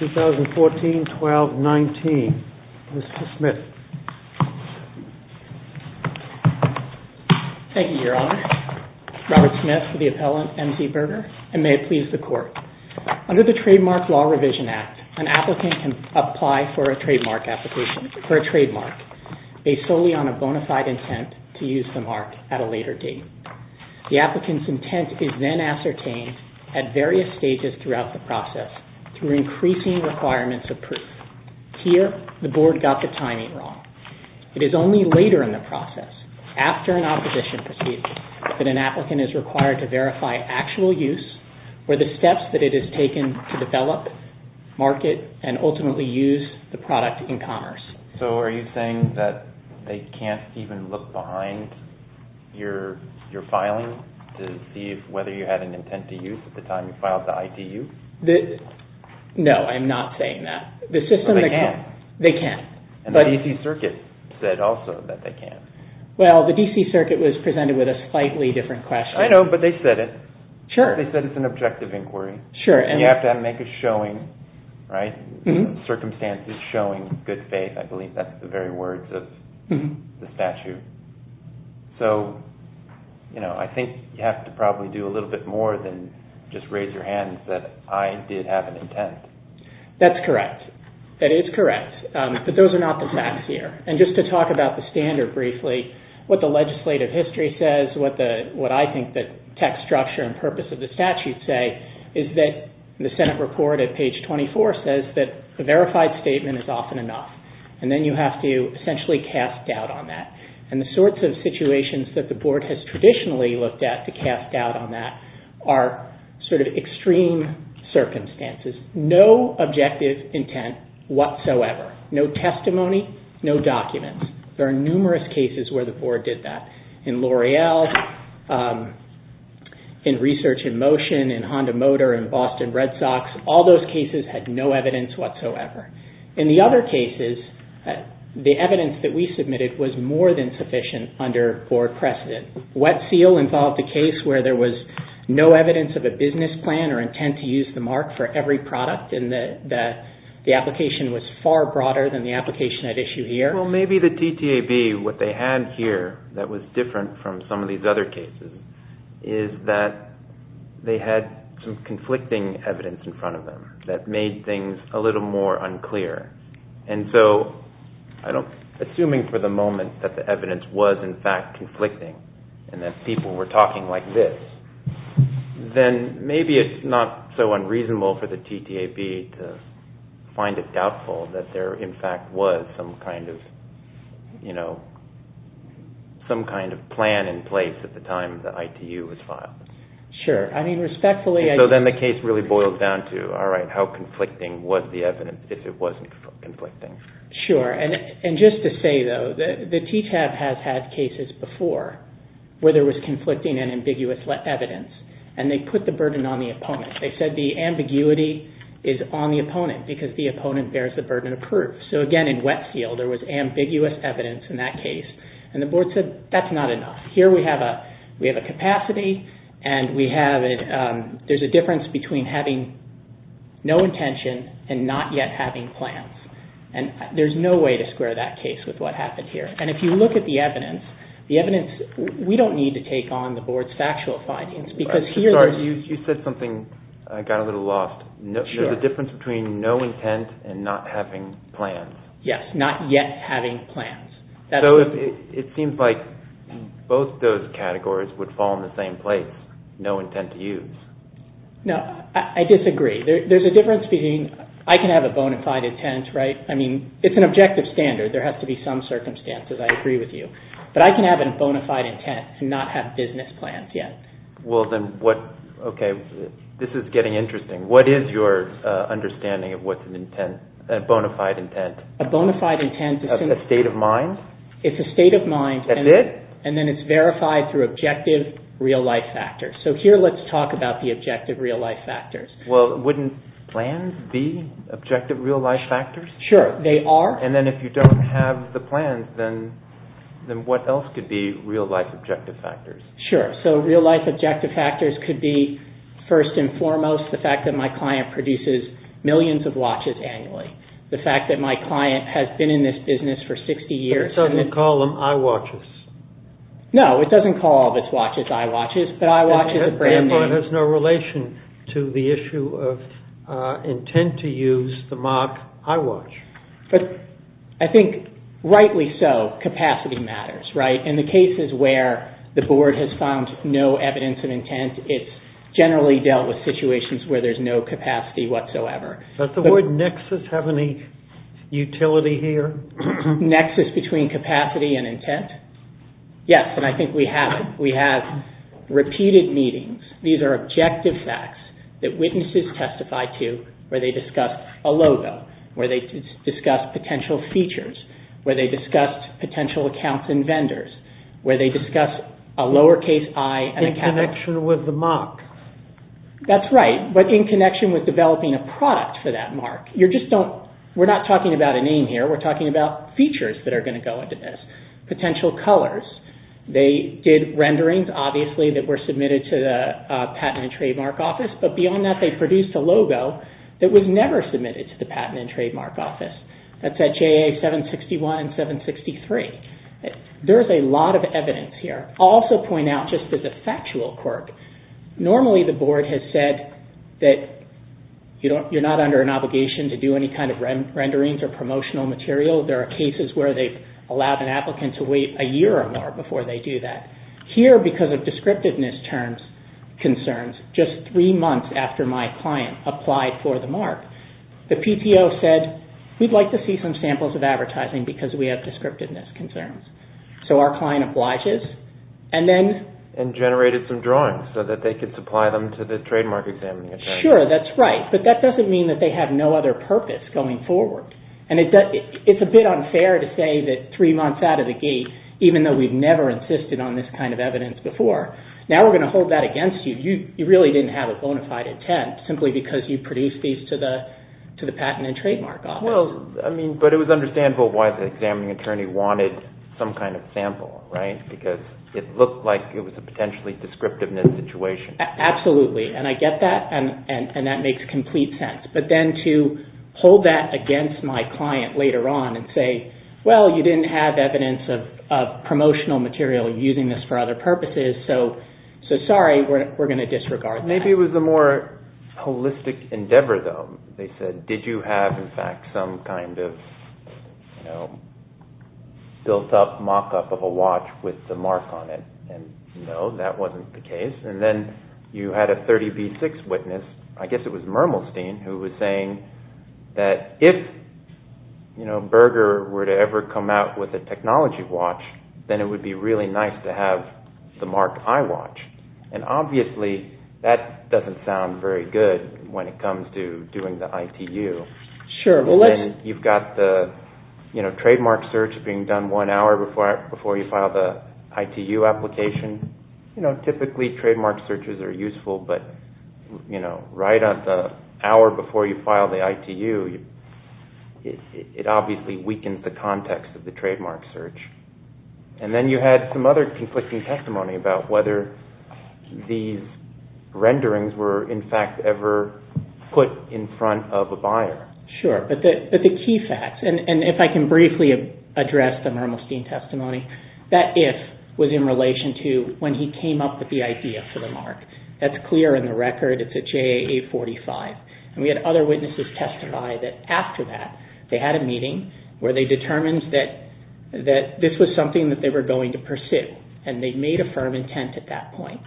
2014-12-19. Mr. Smith. Thank you, Your Honor. Robert Smith, the appellant, M.Z. Berger, and may it please the Court. Under the Trademark Law Revision Act, an applicant can apply for a trademark based solely on a bona fide intent to use the mark at a later date. The applicant's intent is then ascertained at various stages throughout the process through increasing requirements of proof. Here, the Board got the timing wrong. It is only later in the process, after an opposition proceeding, that an applicant is required to verify actual use or the steps that it has taken to develop, market, and ultimately use the product in commerce. So, are you saying that they can't even look behind your filing to see whether you had an intent to use at the time you filed the ITU? No, I'm not saying that. They can't? They can't. The D.C. Circuit said also that they can't. Well, the D.C. Circuit was presented with a slightly different question. I know, but they said it. Sure. They said it's an objective inquiry. Sure. And you have to make a showing, right? Circumstances showing good faith. I believe that's the very words of the statute. So, you know, I think you have to probably do a little bit more than just raise your hand and say, I did have an intent. That's correct. That is correct. But those are not the facts here. And just to talk about the standard briefly, what the legislative history says, what I think the text structure and purpose of the statute say is that the Senate report at page 24 says that a verified statement is often enough. And then you have to essentially cast doubt on that. And the sorts of situations that the board has traditionally looked at to cast doubt on that are sort of extreme circumstances. No objective intent whatsoever. No testimony. No documents. Very numerous cases where the board did that. In L'Oreal, in Research in Motion, in Honda Motor, in Boston Red Sox, all those cases had no evidence whatsoever. In the other cases, the evidence that we submitted was more than sufficient under board precedent. Wet Seal involved a case where there was no evidence of a business plan or intent to use the mark for every product. And the application was far broader than the application at issue here. Well, maybe the TTAB, what they had here that was different from some of these other cases is that they had some conflicting evidence in front of them that made things a little more unclear. And so, assuming for the moment that the evidence was in fact conflicting and that people were talking like this, then maybe it's not so unreasonable for the TTAB to find it doubtful that there in fact was some kind of plan in place at the time the ITU was filed. Sure. I mean, respectfully... And so then the case really boils down to, all right, how conflicting was the evidence if it wasn't conflicting? Sure. And just to say, though, the TTAB has had cases before where there was conflicting and ambiguous evidence and they put the burden on the opponent. They said the ambiguity is on the opponent because the opponent bears the burden of proof. So, again, in Wet Seal there was ambiguous evidence in that case and the board said that's not enough. Here we have a capacity and there's a difference between having no intention and not yet having plans. And there's no way to square that case with what happened here. And if you look at the evidence, we don't need to take on the board's factual findings because here... I'm sorry, you said something I got a little lost. Sure. There's a difference between no intent and not having plans. Yes, not yet having plans. So it seems like both those categories would fall in the same place, no intent to use. No, I disagree. There's a difference between... I can have a bona fide intent, right? I mean, it's an objective standard. There has to be some circumstances, I agree with you. But I can have a bona fide intent to not have business plans yet. Well, then what... Okay, this is getting interesting. What is your understanding of what's a bona fide intent? A bona fide intent is... A state of mind? It's a state of mind... That's it? And then it's verified through objective real life factors. So here let's talk about the objective real life factors. Well, wouldn't plans be objective real life factors? Sure, they are. And then if you don't have the plans, then what else could be real life objective factors? Sure. So real life objective factors could be, first and foremost, the fact that my client produces millions of watches annually. The fact that my client has been in this business for 60 years... But it doesn't call them eyewatches. No, it doesn't call all of its watches eyewatches, but eyewatches is a brand name. That has no relation to the issue of intent to use the watch. But I think rightly so, capacity matters, right? In the cases where the board has found no evidence of intent, it's generally dealt with situations where there's no capacity whatsoever. Does the word nexus have any utility here? Nexus between capacity and intent? Yes, and I think we have it. We have repeated meetings. These are objective facts that witnesses testify to where they discuss a logo, where they discuss potential features, where they discuss potential accounts and vendors, where they discuss a lowercase i and a capital... In connection with the mark. That's right, but in connection with developing a product for that mark. We're not talking about a name here. We're talking about features that are going to go into this, potential colors. They did renderings, obviously, that were submitted to the Patent and Trademark Office, but beyond that they produced a logo that was never submitted to the Patent and Trademark Office. That's at JA 761 and 763. There's a lot of evidence here. I'll also point out, just as a factual quirk, normally the board has said that you're not under an obligation to do any kind of renderings or promotional material. There are cases where they've allowed an applicant to wait a year or more before they do that. Here, because of descriptiveness concerns, just three months after my client applied for the mark, the PTO said, we'd like to see some samples of advertising because we have descriptiveness concerns. Our client obliged us and then... And generated some drawings so that they could supply them to the trademark examiner. Sure, that's right, but that doesn't mean that they have no other purpose going forward. It's a bit unfair to say that three months out of the gate, even though we've never insisted on this kind of evidence before, now we're going to hold that against you. You really didn't have a bona fide intent simply because you produced these to the Patent and Trademark Office. Well, I mean, but it was understandable why the examining attorney wanted some kind of sample, right? Because it looked like it was a potentially descriptiveness situation. Absolutely, and I get that and that makes complete sense. But then to hold that against my client later on and say, well, you didn't have evidence of promotional material using this for other purposes, so sorry, we're going to disregard that. Maybe it was a more holistic endeavor, though. They said, did you have, in fact, some kind of built-up mock-up of a watch with the mark on it? And no, that wasn't the case. And then you had a 30B6 witness, I guess it was Mermelstein, who was saying that if Berger were to ever come out with a technology watch, then it would be really nice to have the mark iWatch. And obviously, that doesn't sound very good when it comes to doing the ITU, and then you've got the trademark search being done one hour before you file the ITU application. Typically, trademark searches are useful, but right at the hour before you file the ITU, it obviously weakens the context of the trademark search. And then you had some other conflicting testimony about whether these renderings were, in fact, ever put in front of a buyer. Sure, but the key facts, and if I can briefly address the Mermelstein testimony, that if was in relation to when he came up with the idea for the mark. That's clear in the record. It's a JAA45. And we had other witnesses testify that after that, they had a meeting where they determined that this was something that they were going to pursue, and they made a firm intent at that point.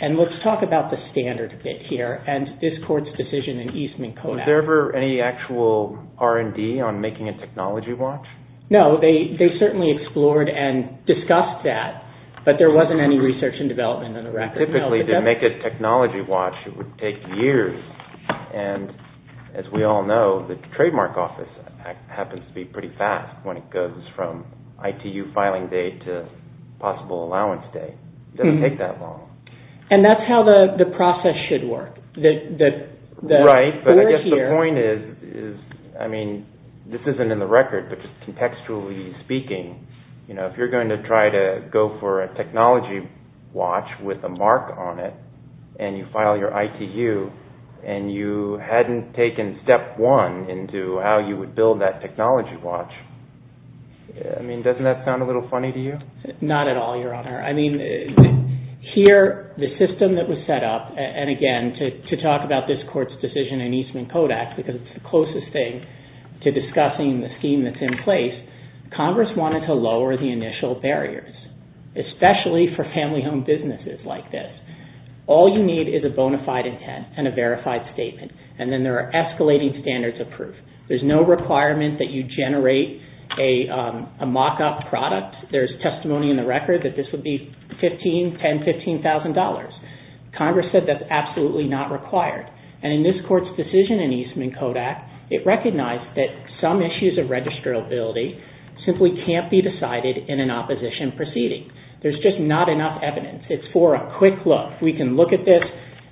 And let's talk about the standard a bit here, and this court's decision in Eastman Kodak. Was there ever any actual R&D on making a technology watch? No, they certainly explored and discussed that, but there wasn't any research and development on the record. Typically, to make a technology watch, it would take years. And as we all know, the trademark office happens to be pretty fast when it goes from ITU filing date to possible allowance date. It doesn't take that long. And that's how the process should work. Right, but I guess the point is, I mean, this isn't in the record, but contextually speaking, you know, if you're going to try to go for a technology watch with a mark on it, and you file your ITU, and you hadn't taken step one into how you would build that technology watch, I mean, doesn't that sound a little funny to you? Not at all, Your Honor. I mean, here, the system that was set up, and again, to talk about this court's decision in Eastman Kodak, because it's the closest thing to discussing the scheme that's in place, Congress wanted to lower the initial barriers, especially for family home businesses like this. All you need is a bona fide intent and a verified statement, and then there are escalating standards of proof. There's no requirement that you generate a mock-up product. There's testimony in the record that this would be $15,000, $10,000, $15,000. Congress said that's absolutely not required. And in this court's decision in Eastman Kodak, it recognized that some issues of registrability simply can't be decided in an opposition proceeding. There's just not enough evidence. It's for a quick look. We can look at this,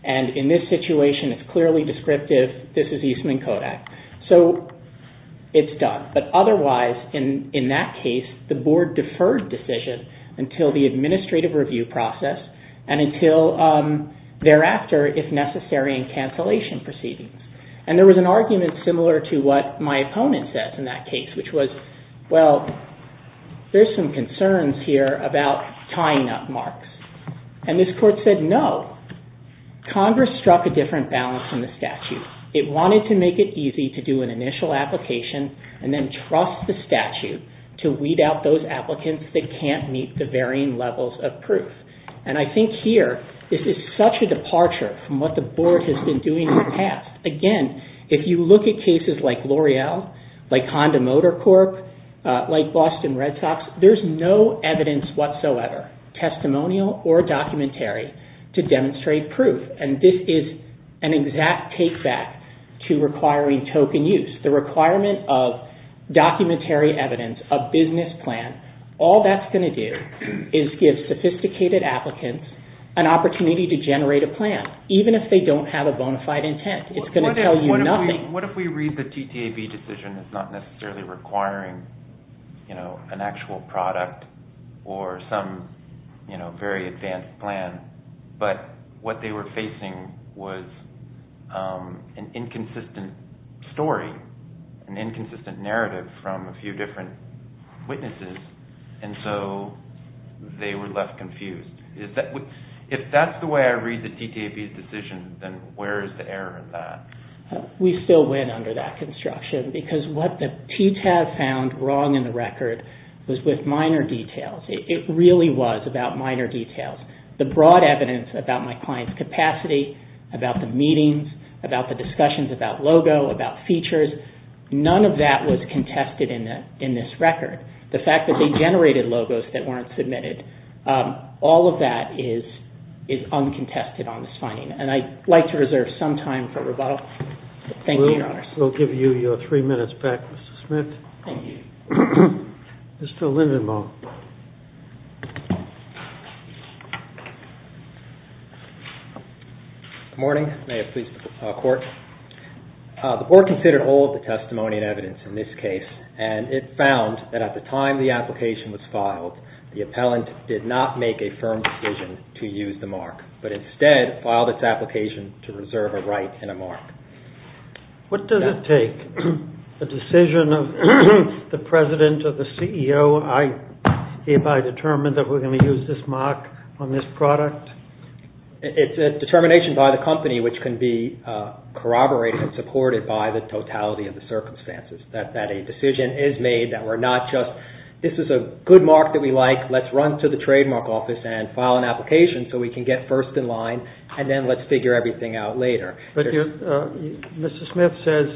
and in this situation, it's clearly descriptive, this is Eastman Kodak. So, it's done. But otherwise, in that case, the board deferred decision until the administrative review process, and until thereafter, if necessary, in cancellation proceedings. And there was an argument similar to what my opponent says in that case, which was, well, there's some concerns here about tying up marks. And this court said, no. Congress struck a different balance in the statute. It wanted to make it easy to do an initial application and then trust the statute to weed out those applicants that can't meet the varying levels of proof. And I think here, this is such a departure from what the board has been doing in the past. Again, if you look at cases like L'Oreal, like Honda Motor Corp., like Boston Red Sox, there's no evidence whatsoever, testimonial or documentary, to demonstrate proof. And this is an exact take back to requiring token use. The requirement of documentary evidence, a business plan, all that's going to do is give sophisticated applicants an opportunity to generate a plan, even if they don't have a bona fide intent. It's going to tell you nothing. What if we read the TTAB decision as not necessarily requiring an actual product or some very advanced plan, but what they were facing was an inconsistent story, an inconsistent narrative from a few different witnesses, and so they were left confused? If that's the way I read the TTAB decision, then where is the error in that? We still win under that construction because what the TTAB found wrong in the record was with minor details. It really was about minor details. The broad evidence about my client's capacity, about the meetings, about the discussions about logo, about features, none of that was contested in this record. The fact that they generated logos that weren't submitted, all of that is uncontested on this finding, and I'd like to reserve some time for rebuttal. We'll give you your three minutes back, Mr. Smith. Thank you. Mr. Lindenbaum. Good morning. May it please the Court. The Board considered all of the testimony and it found that at the time the application was filed, the appellant did not make a firm decision to use the mark, but instead filed its application to reserve a right and a mark. What does it take, a decision of the President or the CEO, if I determine that we're going to use this mark on this product? It's a determination by the company which can be corroborated and supported by the totality of the circumstances, that a decision is made that we're not just, this is a good mark that we like, let's run to the trademark office and file an application so we can get first in line, and then let's figure everything out later. Mr. Smith says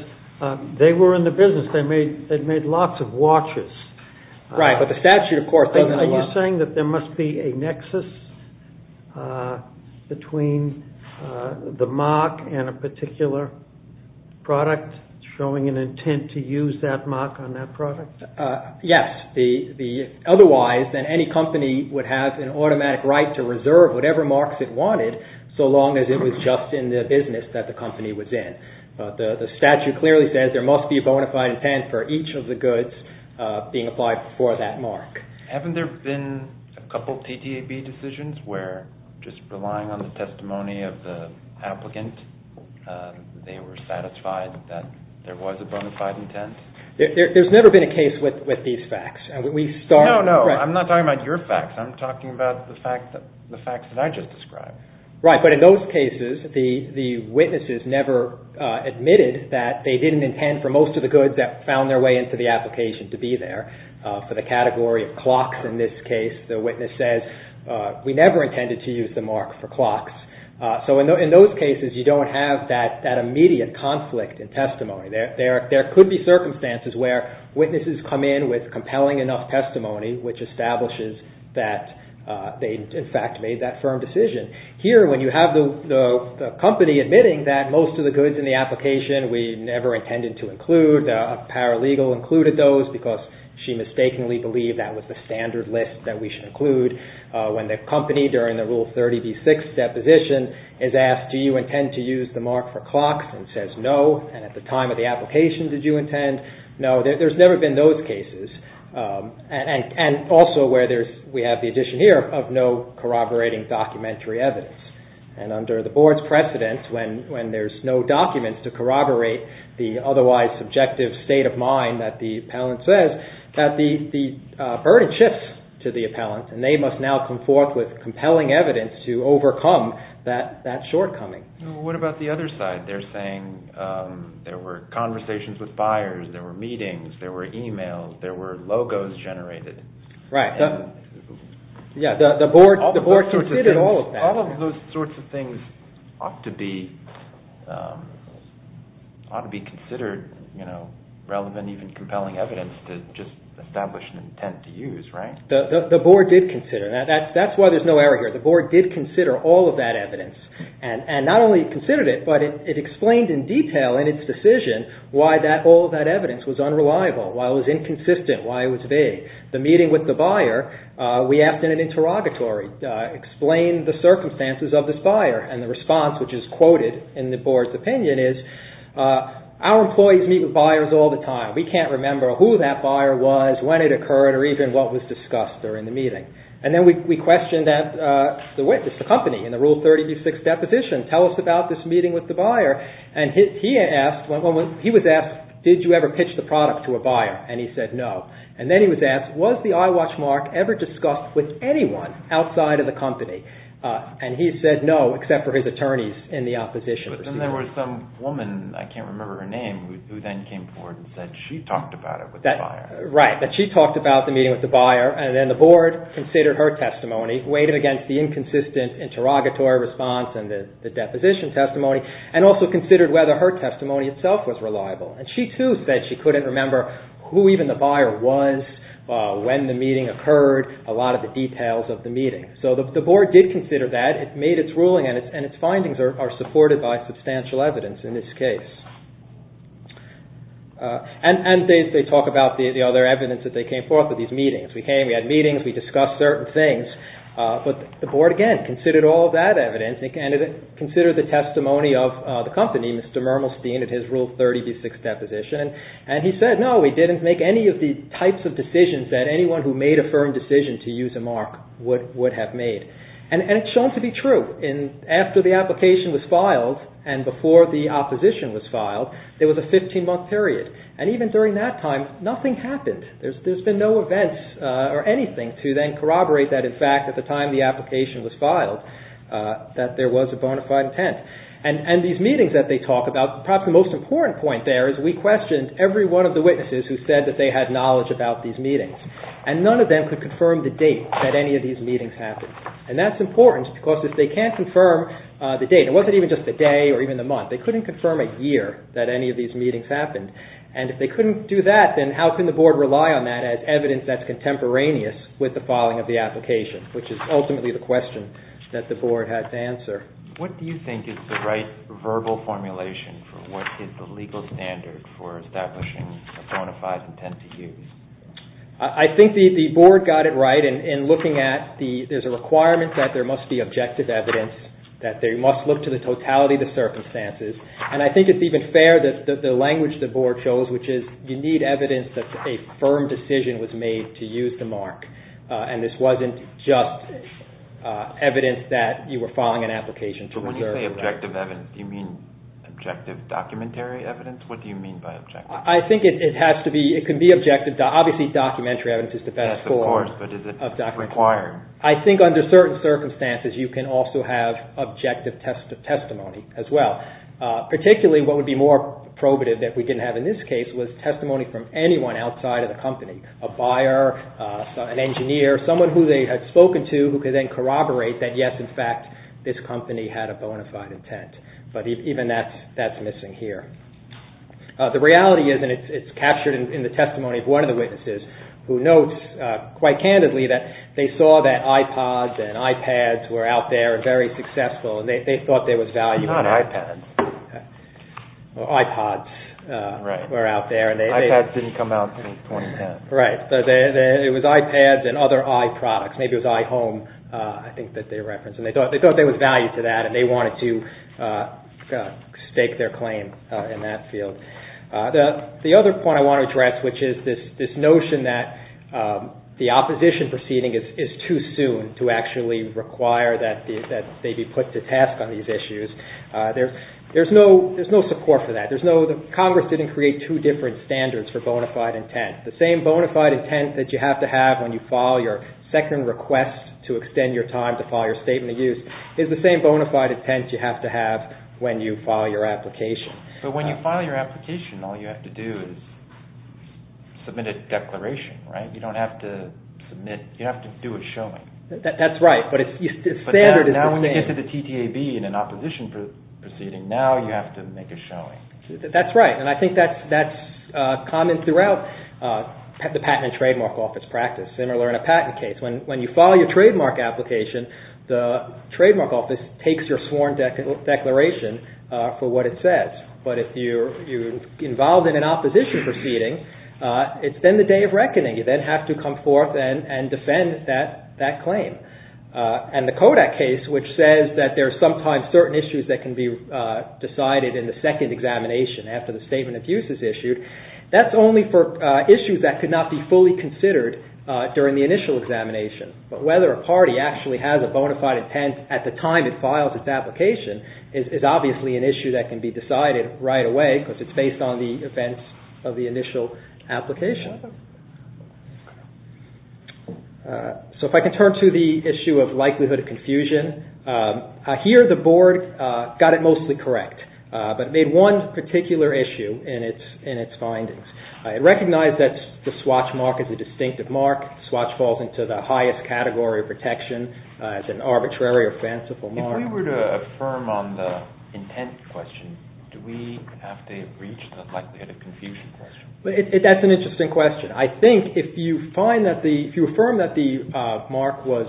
they were in the business, they'd made lots of watches. Right, but the statute, of course, doesn't allow... Are you saying that there must be a nexus between the mark and a particular product showing an intent to use that mark on that product? Yes. Otherwise, then any company would have an automatic right to reserve whatever marks it wanted, so long as it was just in the business that the company was in. The statute clearly says there must be a bona fide intent for each of the goods being applied for that mark. Haven't there been a couple of TTAB decisions where, just relying on the testimony of the witness, there was a bona fide intent? There's never been a case with these facts. We started... No, no, I'm not talking about your facts. I'm talking about the facts that I just described. Right, but in those cases, the witnesses never admitted that they didn't intend for most of the goods that found their way into the application to be there. For the category of clocks in this case, the witness says, we never intended to use the mark for clocks. In those cases, you don't have that immediate conflict in testimony. There could be circumstances where witnesses come in with compelling enough testimony which establishes that they, in fact, made that firm decision. Here, when you have the company admitting that most of the goods in the application we never intended to include, a paralegal included those because she mistakenly believed that was the standard list that we should include. When the company during the Rule 30b-6 deposition is asked, do you intend to use the mark for clocks and says no, and at the time of the application, did you intend? No, there's never been those cases. Also, we have the addition here of no corroborating documentary evidence. Under the board's precedence, when there's no documents to corroborate the otherwise subjective state of mind that the appellant says, the burden shifts to the appellant and they must now come forth with compelling evidence to overcome that shortcoming. What about the other side? They're saying there were conversations with buyers, there were meetings, there were e-mails, there were logos generated. Right. The board considered all of that. All of those sorts of things ought to be considered relevant, even compelling evidence to just establish an intent to use, right? The board did consider. That's why there's no error here. The board did consider all of that evidence and not only considered it, but it explained in detail in its decision why all of that evidence was unreliable, why it was inconsistent, why it was vague. The meeting with the buyer, we asked in an interrogatory, explain the circumstances of this buyer and the response which is quoted in the board's opinion is, our employees meet with buyers all the time. We can't remember who that buyer was, when it occurred, or even what was discussed during the meeting. Then we questioned the witness, the company, in the Rule 30b-6 deposition, tell us about this meeting with the buyer. He was asked, did you ever pitch the product to a buyer? He said no. Then he was asked, was the iWatch mark ever discussed with anyone outside of the company? He said no, except for his attorneys in the opposition. Then there was some woman, I can't remember her name, who then came forward and said she talked about it with the buyer. She talked about the meeting with the buyer, and then the board considered her testimony, weighed it against the inconsistent interrogatory response and the deposition testimony, and also considered whether her testimony itself was reliable. She too said she couldn't remember who even the buyer was, when the meeting occurred, a lot of the details of the meeting. The board did consider that, it made its ruling, and its findings are supported by substantial evidence in this case. They talk about the other evidence that they came forth with these meetings. We came, we had meetings, we discussed certain things, but the board again considered all that evidence and considered the testimony of the company, Mr. Mermelstein, at his Rule 30b-6 deposition, and he said no, we didn't make any of the types of decisions that anyone who made a firm decision to use a mark would have made. It's shown to be true. After the application was filed and before the opposition was filed, there was a 15-month period, and even during that time, nothing happened. There's been no events or anything to then corroborate that, in fact, at the time the application was filed, that there was a bona fide intent. And these meetings that they talk about, perhaps the most important point there is we questioned every one of the witnesses who said that they had knowledge about these meetings, and none of them could confirm the date that any of these meetings happened, and that's important because if they can't confirm the date, it wasn't even just the day or even the month, they couldn't confirm a year that any of these meetings happened. And if they couldn't do that, then how can the Board rely on that as evidence that's contemporaneous with the filing of the application, which is ultimately the question that the Board had to answer. What do you think is the right verbal formulation for what is the legal standard for establishing a bona fide intent to use? I think the Board got it right in looking at there's a requirement that there must be And I think it's even fair that the language the Board chose, which is you need evidence that a firm decision was made to use the mark, and this wasn't just evidence that you were filing an application to reserve that. But when you say objective evidence, do you mean objective documentary evidence? What do you mean by objective? I think it has to be, it can be objective, obviously documentary evidence is the best form of documentary. Yes, of course, but is it required? I think under certain circumstances you can also have objective testimony as well. Particularly what would be more probative that we didn't have in this case was testimony from anyone outside of the company. A buyer, an engineer, someone who they had spoken to who could then corroborate that yes, in fact, this company had a bona fide intent. But even that's missing here. The reality is, and it's captured in the testimony of one of the witnesses who notes quite candidly that they saw that iPods and iPads were out there and very successful, and they thought there was value in that. Not iPads. iPods were out there. iPads didn't come out in 2010. Right. It was iPads and other iProducts. Maybe it was iHome, I think that they referenced. And they thought there was value to that, and they wanted to stake their claim in that field. The other point I want to address, which is this notion that the opposition proceeding is too soon to actually require that they be put to task on these issues. There's no support for that. Congress didn't create two different standards for bona fide intent. The same bona fide intent that you have to have when you file your second request to extend your time to file your statement of use is the same bona fide intent you have to have when you file your application. But when you file your application, all you have to do is submit a declaration, right? You don't have to submit, you have to do a showing. That's right, but the standard is the same. But now when you get to the TTAB in an opposition proceeding, now you have to make a showing. That's right, and I think that's common throughout the patent and trademark office practice, similar in a patent case. When you file your trademark application, the trademark office takes your sworn declaration for what it says. But if you're involved in an opposition proceeding, it's then the day of reckoning. You then have to come forth and defend that claim. And the Kodak case, which says that there are sometimes certain issues that can be decided in the second examination after the statement of use is issued, that's only for issues that could not be fully considered during the initial examination. But whether a party actually has a bona fide intent at the time it files its application is obviously an issue that can be decided right away because it's based on the events of the initial application. So if I can turn to the issue of likelihood of confusion. Here the board got it mostly correct, but it made one particular issue in its findings. It recognized that the swatch mark is a distinctive mark. The swatch falls into the highest category of protection. It's an arbitrary or fanciful mark. If we were to affirm on the intent question, do we have to reach the likelihood of confusion question? That's an interesting question. I think if you affirm that the mark was,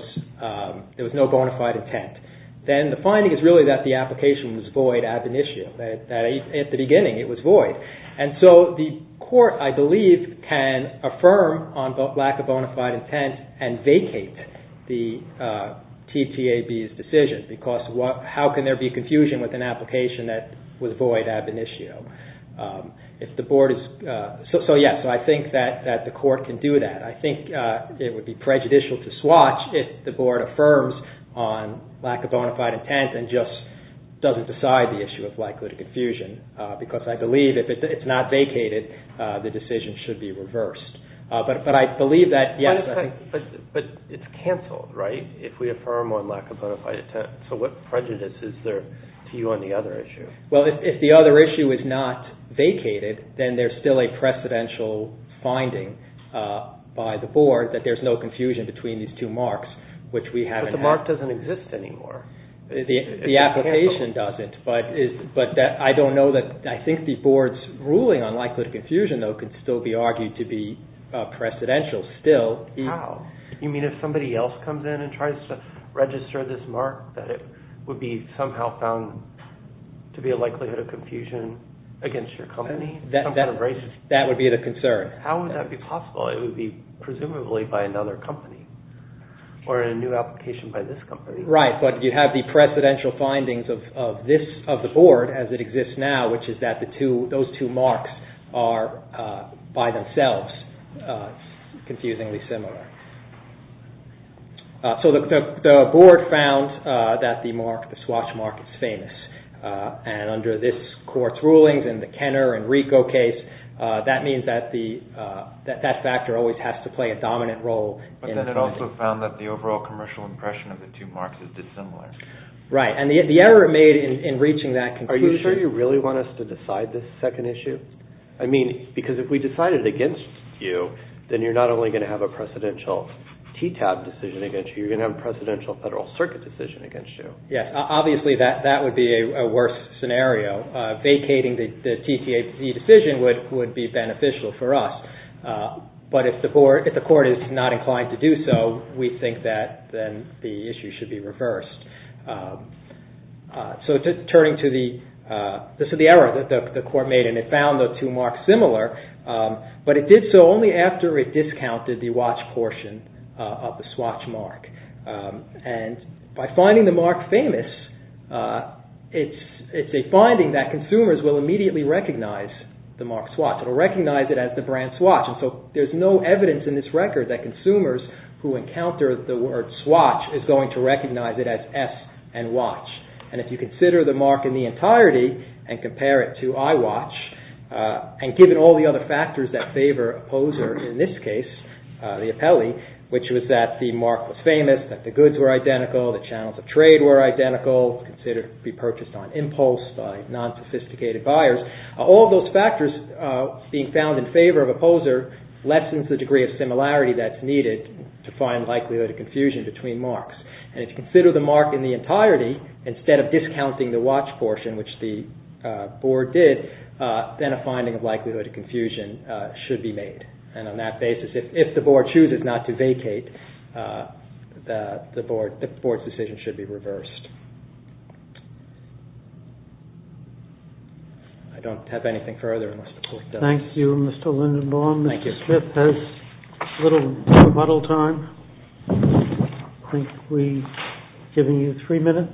there was no bona fide intent, then the finding is really that the application was void ad initio, that at the beginning it was void. And so the court, I believe, can affirm on lack of bona fide intent and vacate the TTAB's request. How can there be confusion with an application that was void ad initio? So yes, I think that the court can do that. I think it would be prejudicial to swatch if the board affirms on lack of bona fide intent and just doesn't decide the issue of likelihood of confusion because I believe if it's not vacated, the decision should be reversed. But I believe that, yes. But it's canceled, right? If we affirm on lack of bona fide intent. So what prejudice is there to you on the other issue? Well, if the other issue is not vacated, then there's still a precedential finding by the board that there's no confusion between these two marks, which we haven't had. But the mark doesn't exist anymore. The application doesn't, but I don't know that, I think the board's ruling on likelihood of confusion, though, could still be argued to be precedential still. How? You mean if somebody else comes in and tries to register this mark that it would be somehow found to be a likelihood of confusion against your company? That would be the concern. How would that be possible? It would be presumably by another company or a new application by this company. Right. But you have the precedential findings of this, of the board as it exists now, which is that those two marks are by themselves confusingly similar. So the board found that the swatch mark is famous. And under this court's rulings in the Kenner and Rico case, that means that that factor always has to play a dominant role. But then it also found that the overall commercial impression of the two marks is dissimilar. Right. And the error made in reaching that conclusion… I mean, because if we decided against you, then you're not only going to have a precedential TTAB decision against you, you're going to have a precedential Federal Circuit decision against you. Yes. Obviously, that would be a worse scenario. Vacating the TTAB decision would be beneficial for us. But if the court is not inclined to do so, we think that then the issue should be reversed. So turning to the error that the court made, and it found the two marks similar, but it did so only after it discounted the watch portion of the swatch mark. And by finding the mark famous, it's a finding that consumers will immediately recognize the mark swatch. It will recognize it as the brand swatch. And so there's no evidence in this record that consumers who encounter the word swatch is going to recognize it as S and watch. And if you consider the mark in the entirety and compare it to iWatch, and given all the other factors that favor Opposer in this case, the appellee, which was that the mark was famous, that the goods were identical, the channels of trade were identical, considered to be purchased on impulse by non-sophisticated buyers, all those factors being found in favor of Opposer lessens the degree of similarity that's needed to find likelihood of confusion between marks. And if you consider the mark in the entirety, instead of discounting the watch portion, which the board did, then a finding of likelihood of confusion should be made. And on that basis, if the board chooses not to vacate, the board's decision should be reversed. I don't have anything further unless the court does. Thank you, Mr. Lindenbaum. Thank you. Mr. Smith has a little rebuttal time. I think we've given you three minutes.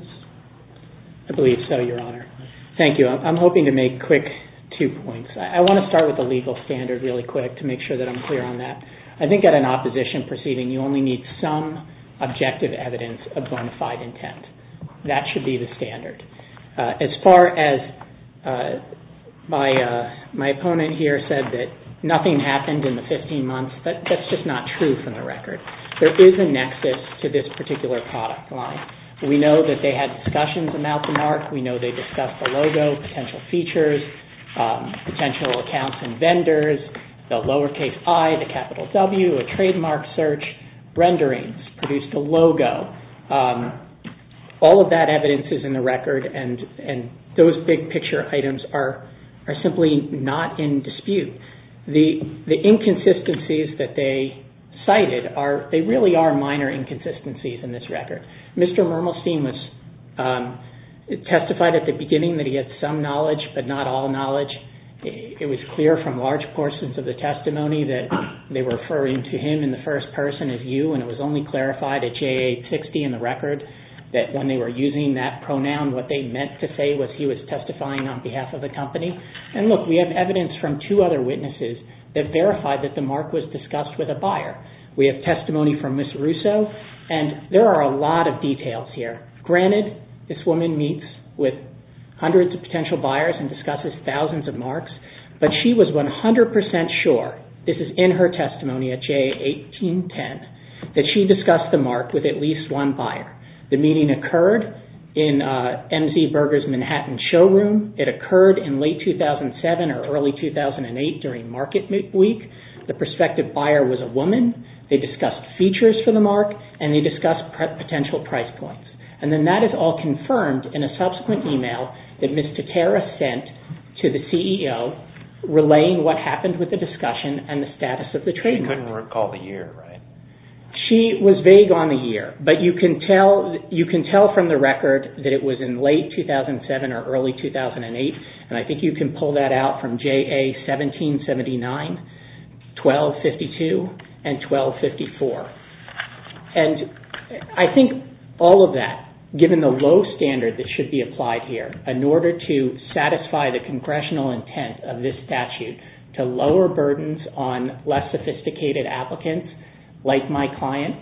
I believe so, Your Honor. Thank you. I'm hoping to make quick two points. I want to start with the legal standard really quick to make sure that I'm clear on that. I think at an opposition proceeding, you only need some objective evidence of bona fide intent. That should be the standard. As far as my opponent here said that nothing happened in the 15 months, that's just not true from the record. There is a nexus to this particular product line. We know that they had discussions about the mark. We know they discussed the logo, potential features, potential accounts and vendors, the lowercase i, the capital W, a trademark search, renderings, produced a logo. All of that evidence is in the record and those big picture items are simply not in dispute. The inconsistencies that they cited, they really are minor inconsistencies in this record. Mr. Mermelstein testified at the beginning that he had some knowledge but not all knowledge. It was clear from large portions of the testimony that they were referring to him in the first person as you and it was only clarified at JA 60 in the record that when they were using that pronoun, what they meant to say was he was testifying on behalf of the company. Look, we have evidence from two other witnesses that verified that the mark was discussed with a buyer. We have testimony from Ms. Russo and there are a lot of details here. Granted, this woman meets with hundreds of potential buyers and discusses thousands of that she discussed the mark with at least one buyer. The meeting occurred in MZ Berger's Manhattan showroom. It occurred in late 2007 or early 2008 during market week. The prospective buyer was a woman. They discussed features for the mark and they discussed potential price points. And then that is all confirmed in a subsequent email that Ms. Teterra sent to the CEO relaying what happened with the discussion and the status of the trademark. You couldn't recall the year, right? She was vague on the year, but you can tell from the record that it was in late 2007 or early 2008. And I think you can pull that out from JA 1779, 1252, and 1254. And I think all of that, given the low standard that should be applied here in order to satisfy the congressional intent of this statute to lower burdens on less sophisticated applicants, like my client,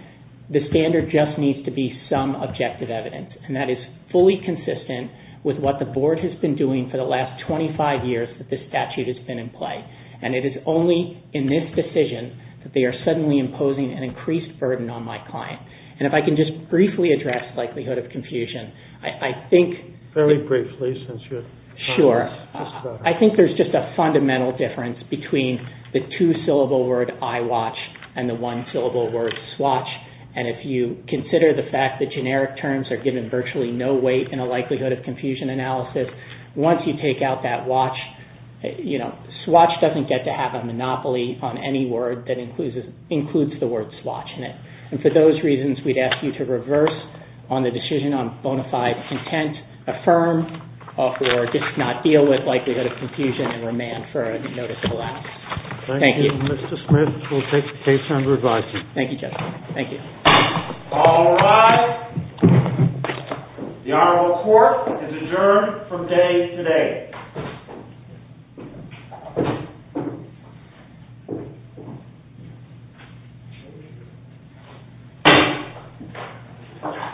the standard just needs to be some objective evidence. And that is fully consistent with what the board has been doing for the last 25 years that this statute has been in play. And it is only in this decision that they are suddenly imposing an increased burden on my client. And if I can just briefly address likelihood of confusion, I think... I think there is just a fundamental difference between the two-syllable word I watch and the one-syllable word swatch. And if you consider the fact that generic terms are given virtually no weight in a likelihood of confusion analysis, once you take out that watch, you know, swatch doesn't get to have a monopoly on any word that includes the word swatch in it. And for those reasons, we would ask you to reverse on the decision on bona fide intent, affirm or just not deal with likelihood of confusion and remand for a noticeable lapse. Thank you. Thank you, Mr. Smith. We'll take the case under revising. Thank you, Judge. Thank you. All rise. The Honorable Court is adjourned from day today.